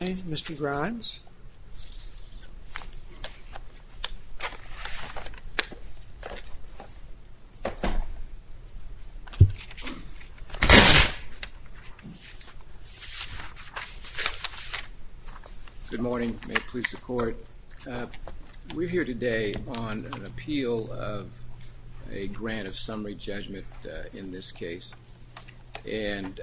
Mr. Grimes. Good morning. May it please the court. We're here today on an appeal of a and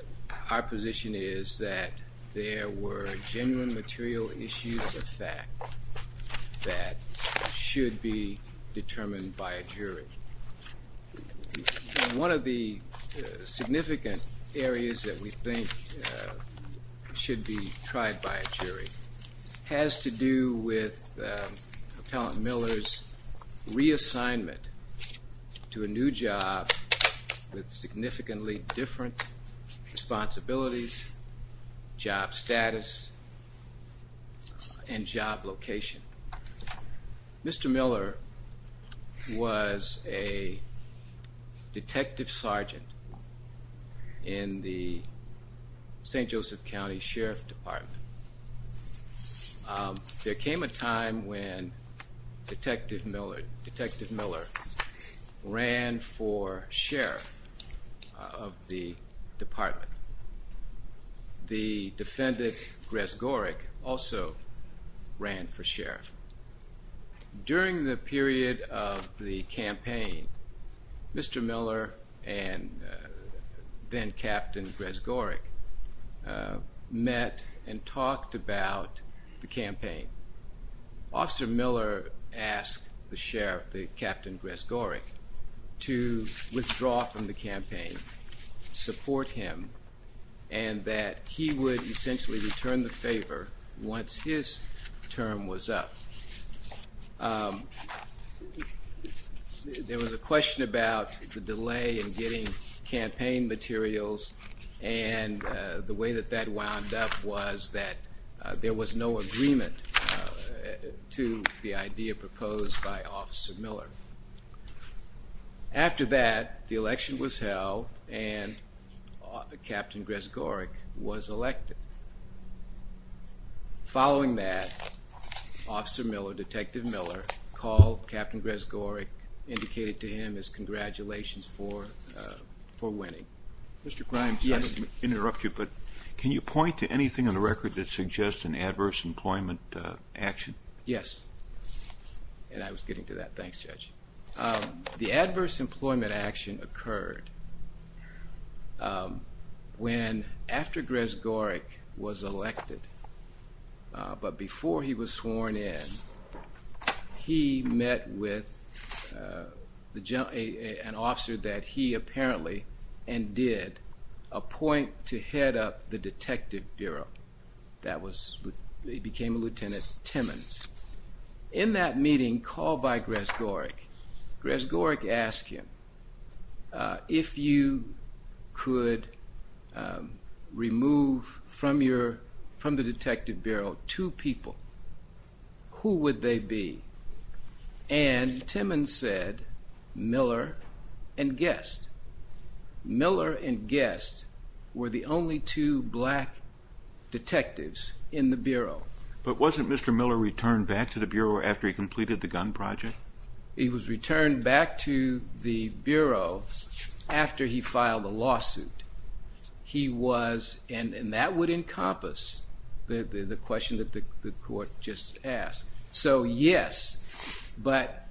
our position is that there were genuine material issues of fact that should be determined by a jury. One of the significant areas that we think should be tried by a jury has to do with Appellant Miller's reassignment to a new with significantly different responsibilities, job status, and job location. Mr. Miller was a detective sergeant in the St. Joseph County Sheriff's Department. There came a time when Detective Miller ran for sheriff of the department. The defendant, Grezgorik, also ran for sheriff. During the period of the campaign, Mr. Miller and then-captain Grezgorik met and talked about the campaign. Officer Miller asked the captain Grezgorik to withdraw from the campaign, support him, and that he would essentially return the favor once his term was up. There was a question about the delay in getting campaign materials and the way that that wound up was that there was no agreement to the idea proposed by Officer Miller. After that, the election was held and Captain Grezgorik was elected. Following that, Officer Miller, Detective Miller, called Captain Grezgorik, indicated to him his congratulations for for winning. Mr. Grimes, I don't want to interrupt you, but can you point to anything on the record that suggests an adverse employment action? Yes, and I was getting to that. Thanks, Judge. The adverse employment action occurred when, after Grezgorik was elected, but before he was sworn in, he met with an officer that he apparently, and did, appoint to head up the Detective Bureau. That was, he became a Lieutenant Timmons. In that meeting, called by Grezgorik, Grezgorik asked him, if you could remove from your, from the Detective Bureau, two people, who would they be? And Timmons said, Miller and Guest. Miller and Guest were the only two black detectives in the Bureau. But wasn't Mr. Miller returned back to the Bureau after he completed the gun project? He was returned back to the Bureau after he filed a lawsuit. He was, and that would encompass the question that the court just asked. So yes, but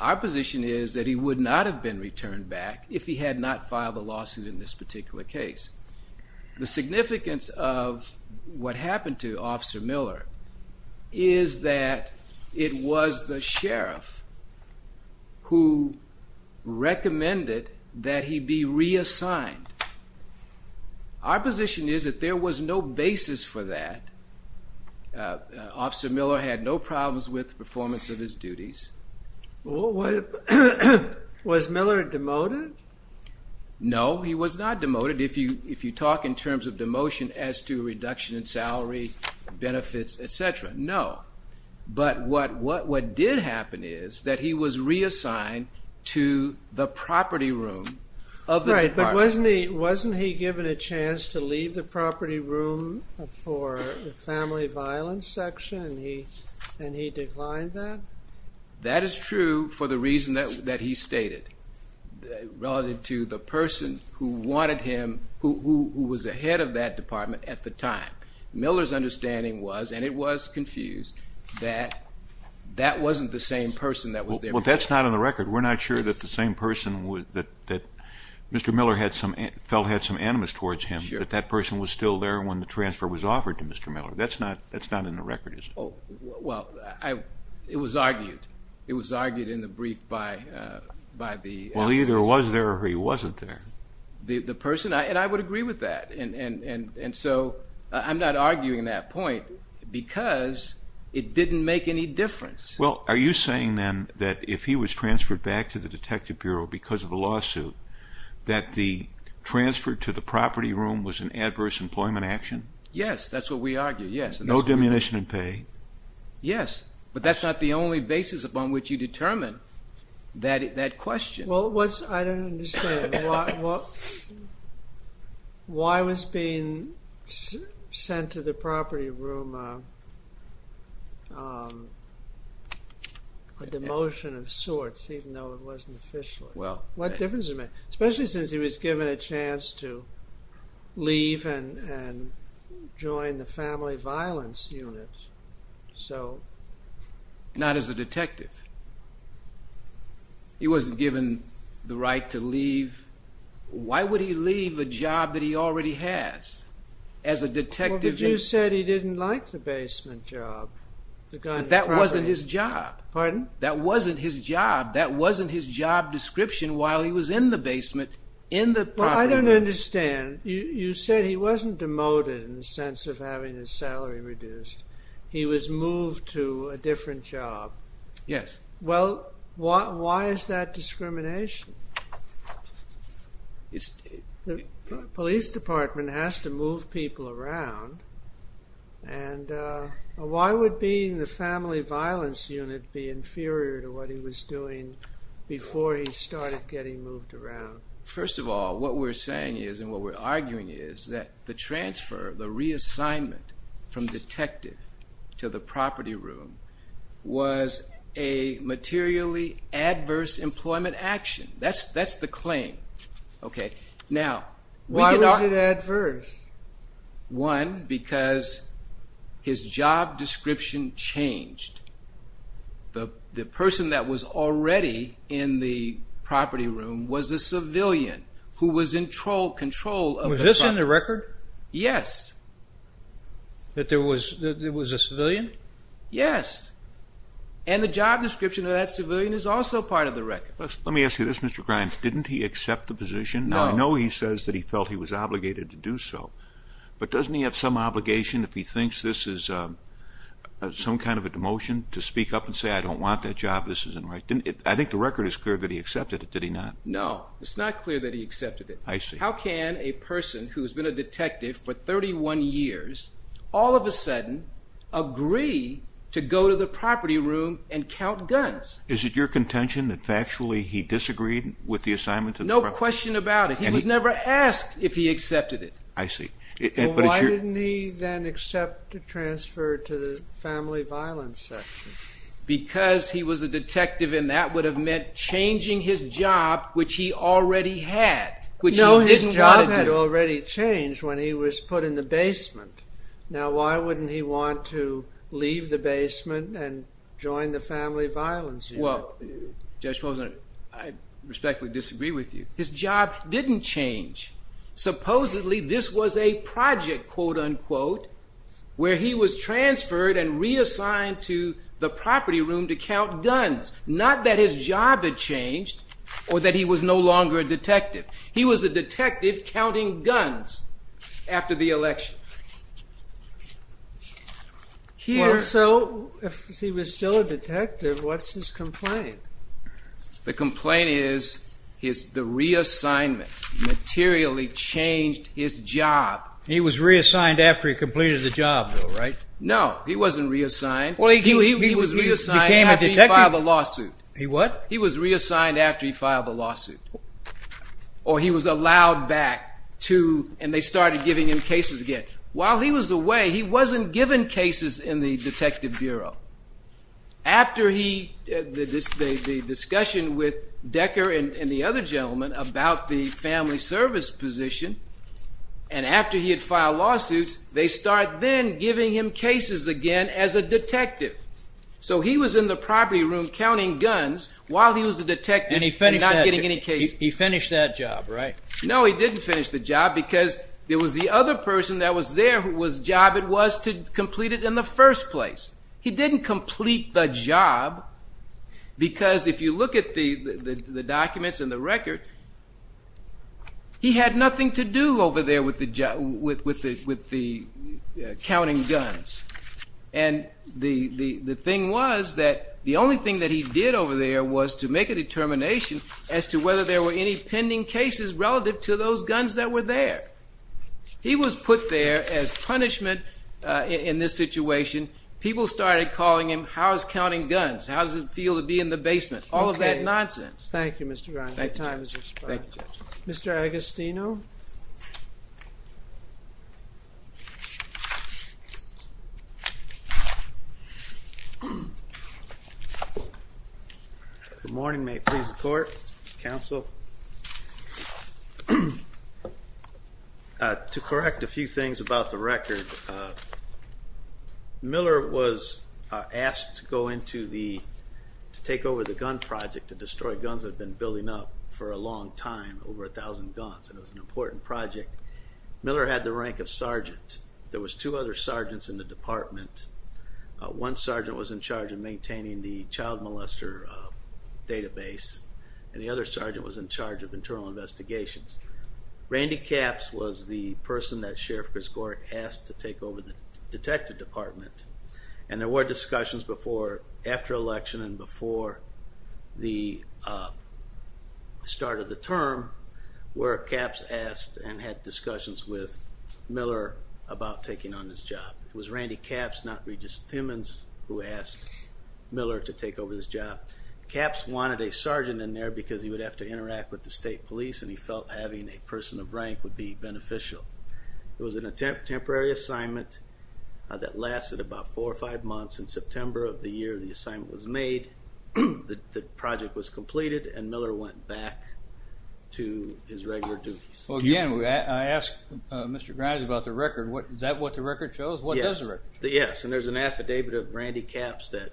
our position is that he would not have been returned back if he had not filed a lawsuit in this particular case. The significance of what happened to Officer Miller is that it was the sheriff who recommended that he be reassigned. Our position is that there was no basis for that. Officer Miller had no problems with the performance of his duties. Was Miller demoted? No, he was not demoted. If you, if you talk in terms of demotion as to reduction in salary, benefits, etc., no. But what, what, what did happen is that he was reassigned to the property room of the given a chance to leave the property room for the family violence section and he, and he declined that? That is true for the reason that, that he stated, relative to the person who wanted him, who, who was the head of that department at the time. Miller's understanding was, and it was confused, that that wasn't the same person that was there. Well, that's not on the record. We're not sure that the that person was still there when the transfer was offered to Mr. Miller. That's not, that's not in the record, is it? Oh, well, I, it was argued. It was argued in the brief by, by the... Well, he either was there or he wasn't there. The, the person, and I would agree with that. And, and, and, and so I'm not arguing that point because it didn't make any difference. Well, are you saying then that if he was transferred back to the Detective Bureau because of a lawsuit, that the transfer to the property room was an adverse employment action? Yes, that's what we argue, yes. No diminution in pay? Yes, but that's not the only basis upon which you determine that, that question. Well, what's, I don't understand, why, why was being sent to the property room a, a demotion of sorts, even though it wasn't officially? Well... What difference does it make? Especially since he was given a chance to leave and, and join the Family Violence Unit, so... Not as a detective. He wasn't given the right to leave. Why would he leave a job that he already has as a detective? Well, but you said he didn't like the basement job. That wasn't his job. Pardon? That wasn't his job. That wasn't his job description while he was in the basement, in the property room. Well, I don't understand. You, you said he wasn't demoted in the sense of having his salary reduced. He was moved to a different job. Yes. Well, why, why is that discrimination? It's, the Police Department has to move people around and why would being the Family Violence Unit be inferior to what he was doing before he started getting moved around? First of all, what we're saying is, and what we're arguing is, that the transfer, the reassignment from detective to the property room was a materially adverse employment action. That's, that's the his job description changed. The, the person that was already in the property room was a civilian who was in control, control of the property. Was this in the record? Yes. That there was, that there was a civilian? Yes. And the job description of that civilian is also part of the record. Let me ask you this, Mr. Grimes. Didn't he accept the position? No. Now, I know he says that he felt he was some kind of a demotion to speak up and say, I don't want that job, this isn't right. Didn't it, I think the record is clear that he accepted it, did he not? No, it's not clear that he accepted it. I see. How can a person who's been a detective for 31 years, all of a sudden, agree to go to the property room and count guns? Is it your contention that factually he disagreed with the assignment? No question about it. He was never asked if he accepted it. I see. Why didn't he then accept to transfer to the family violence section? Because he was a detective and that would have meant changing his job, which he already had. No, his job had already changed when he was put in the basement. Now, why wouldn't he want to leave the basement and join the family violence unit? Well, Judge Posner, I respectfully disagree with you. His job didn't change. Supposedly, this was a quote-unquote, where he was transferred and reassigned to the property room to count guns. Not that his job had changed or that he was no longer a detective. He was a detective counting guns after the election. So, if he was still a detective, what's his complaint? The complaint is the reassignment materially changed his job. He was reassigned after he completed the job, though, right? No, he wasn't reassigned. He was reassigned after he filed a lawsuit. He what? He was reassigned after he filed a lawsuit. Or he was allowed back to, and they started giving him cases again. While he was away, he wasn't given cases in the detective bureau. After the discussion with Decker and the other gentleman about the family service position, and after he had filed lawsuits, they start then giving him cases again as a detective. So, he was in the property room counting guns while he was a detective and not getting any cases. And he finished that job, right? No, he didn't finish the job, because there was the other person that was there whose job it was to complete it in the first place. He didn't complete the job, because if you look at the documents and the record, he had nothing to do over there with the job. With the counting guns. And the thing was that the only thing that he did over there was to make a determination as to whether there were any pending cases relative to those guns that were there. He was put there as punishment in this situation. People started calling him, how's counting guns? How does it feel to be in the basement? All of that nonsense. Thank you, Mr. Brown. Thank you, judges. Mr. Agostino? Good morning. May it please the court, counsel. To correct a few things about the record, Miller was asked to go into the, to take over the gun project, to destroy guns that had been building up for a long time, over a thousand guns, and it was an important project. Miller had the rank of sergeant. There was two other sergeants in the department. One sergeant was in charge of maintaining the child molester database, and the other sergeant was in charge of maintaining the child molester database. Randy Capps was the person that Sheriff Chris Gorick asked to take over the detective department, and there were discussions before, after election, and before the start of the term, where Capps asked and had discussions with Miller about taking on this job. It was Randy Capps, not Regis Timmons, who asked Miller to take over this job. Capps wanted a sergeant in there because he would have to interact with the state police, and he felt having a person of rank would be beneficial. It was a temporary assignment that lasted about four or five months. In September of the year the assignment was made, the project was completed, and Miller went back to his regular duties. Again, I asked Mr. Grimes about the record. Is that what the record shows? What does the record show? Yes, and there's an affidavit of Randy Capps that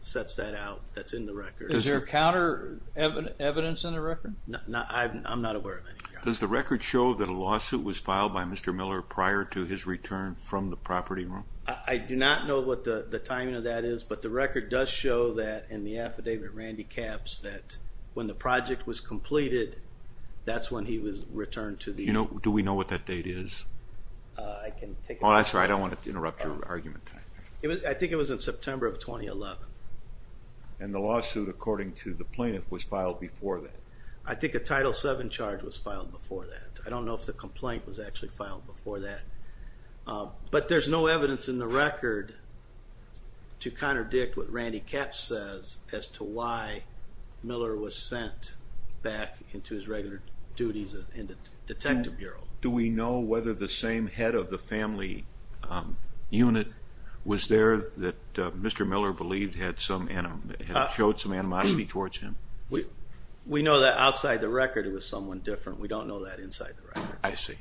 sets that out, that's in the record. Is there counter evidence in the record? I'm not aware of any. Does the record show that a lawsuit was filed by Mr. Miller prior to his return from the property room? I do not know what the timing of that is, but the record does show that in the affidavit of Randy Capps that when the project was completed, that's when he was returned to the... Do we know what that date is? I can take... Oh, that's right, I don't want to interrupt your argument. I think it was in September of 2011. And the lawsuit, according to the plaintiff, was filed before that. I think a Title VII charge was filed before that. I don't know if the complaint was actually filed before that. But there's no evidence in the record to contradict what Randy Capps says as to why Miller was sent back into his regular duties in the detective bureau. Do we know whether the same head of the family unit was there that Mr. Miller believed had showed some animosity towards him? We know that outside the record it was someone different. We don't know that inside the record. I see.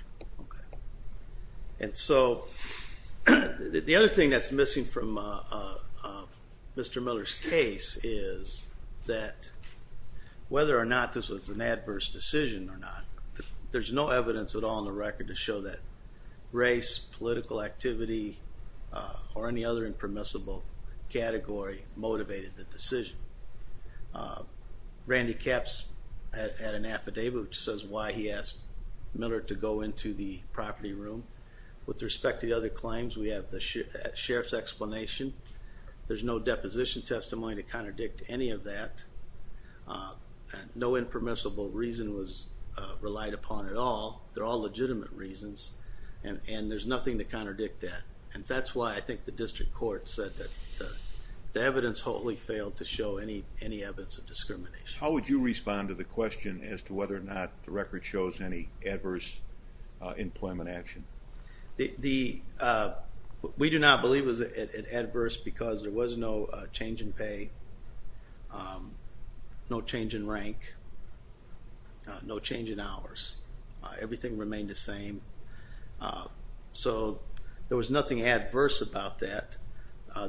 And so the other thing that's missing from Mr. Miller's case is that whether or not this was an adverse decision or not, there's no evidence at all in the record to show that race, political activity, or any other impermissible category motivated the decision. Randy Capps had an affidavit which says why he asked Miller to go into the property room. With respect to the other claims, we have the sheriff's explanation. There's no deposition testimony to contradict any of that. No impermissible reason was relied upon at all. They're all legitimate reasons, and there's nothing to contradict that. And that's why I think the district court said that the evidence wholly failed to show any evidence of discrimination. How would you respond to the question as to whether or not the record shows any adverse employment action? We do not believe it was adverse because there was no change in pay, no change in rank, no change in hours. Everything remained the same. So there was nothing adverse about that.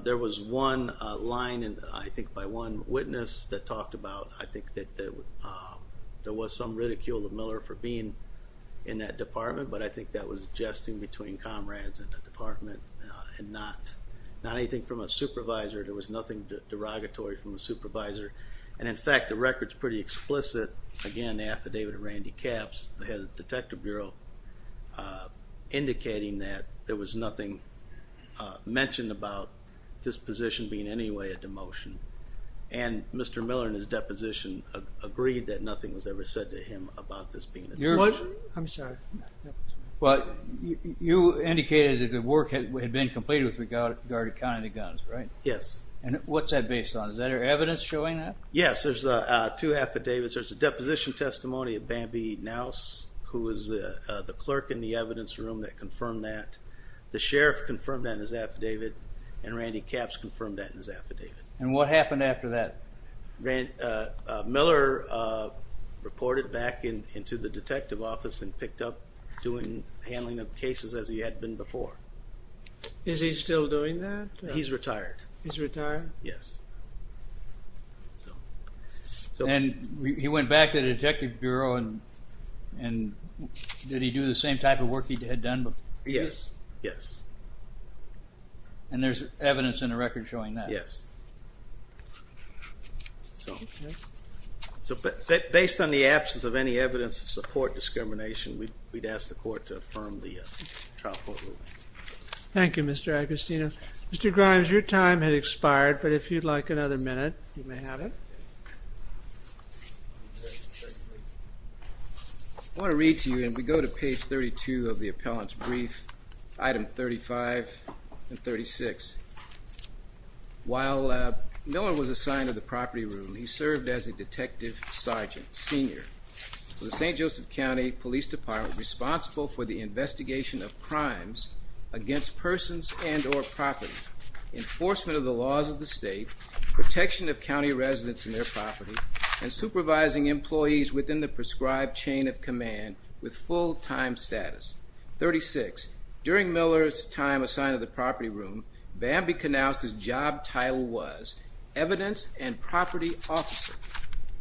There was one line, I think, by one witness that talked about, I think, that there was some ridicule of Miller for being in that department, but I think that was jesting between comrades in the department and not anything from a supervisor. There was nothing derogatory from a supervisor. And, in fact, the record's pretty explicit. Again, the affidavit of Randy Capps, the head of the Detective Bureau, indicating that there was nothing mentioned about this position being in any way a demotion. And Mr. Miller, in his deposition, agreed that nothing was ever said to him about this being a demotion. I'm sorry. Well, you indicated that the work had been completed with regard to counting the guns, right? Yes. And what's that based on? Is there evidence showing that? Yes. There's two affidavits. There's a deposition testimony of Bambi Knauss, who was the clerk in the evidence room that confirmed that. The sheriff confirmed that in his affidavit, and Randy Capps confirmed that in his affidavit. And what happened after that? Miller reported back into the detective office and picked up handling of cases as he had been before. Is he still doing that? He's retired. He's retired? Yes. And he went back to the Detective Bureau, and did he do the same type of work he had done before? Yes, yes. And there's evidence in the record showing that? Yes. So based on the absence of any evidence to support discrimination, we'd ask the court to affirm the trial court ruling. Thank you, Mr. Agostino. Mr. Grimes, your time has expired, but if you'd like another minute, you may have it. I want to read to you, and we go to page 32 of the appellant's brief, item 35 and 36. While Miller was assigned to the property room, he served as a detective sergeant senior for the St. Joseph County Police Department, responsible for the investigation of crimes against persons and or property, enforcement of the laws of the state, protection of county residents and their property, and supervising employees within the prescribed chain of command with full-time status. 36. During Miller's time assigned to the property room, Bamby Canouse's job title was evidence and property officer.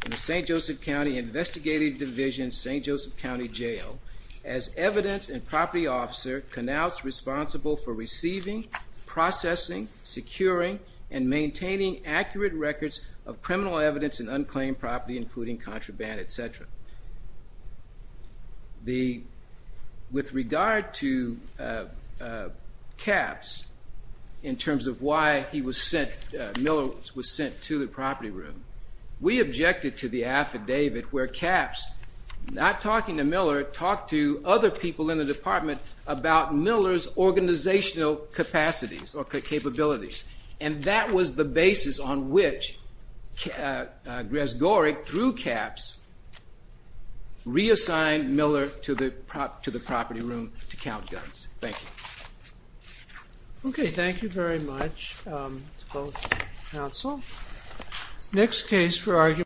In the St. Joseph County Investigative Division, St. Joseph County Jail, as evidence and property officer, Canouse was responsible for receiving, processing, securing, and maintaining accurate records of criminal evidence and unclaimed property, including contraband, et cetera. With regard to caps, in terms of why Miller was sent to the property room, we objected to the affidavit where caps, not talking to Miller, talked to other people in the department about Miller's organizational capacities or capabilities, and that was the basis on which Grezgorik, through caps, reassigned Miller to the property room to count guns. Thank you. Okay, thank you very much, both counsel. Next case for argument...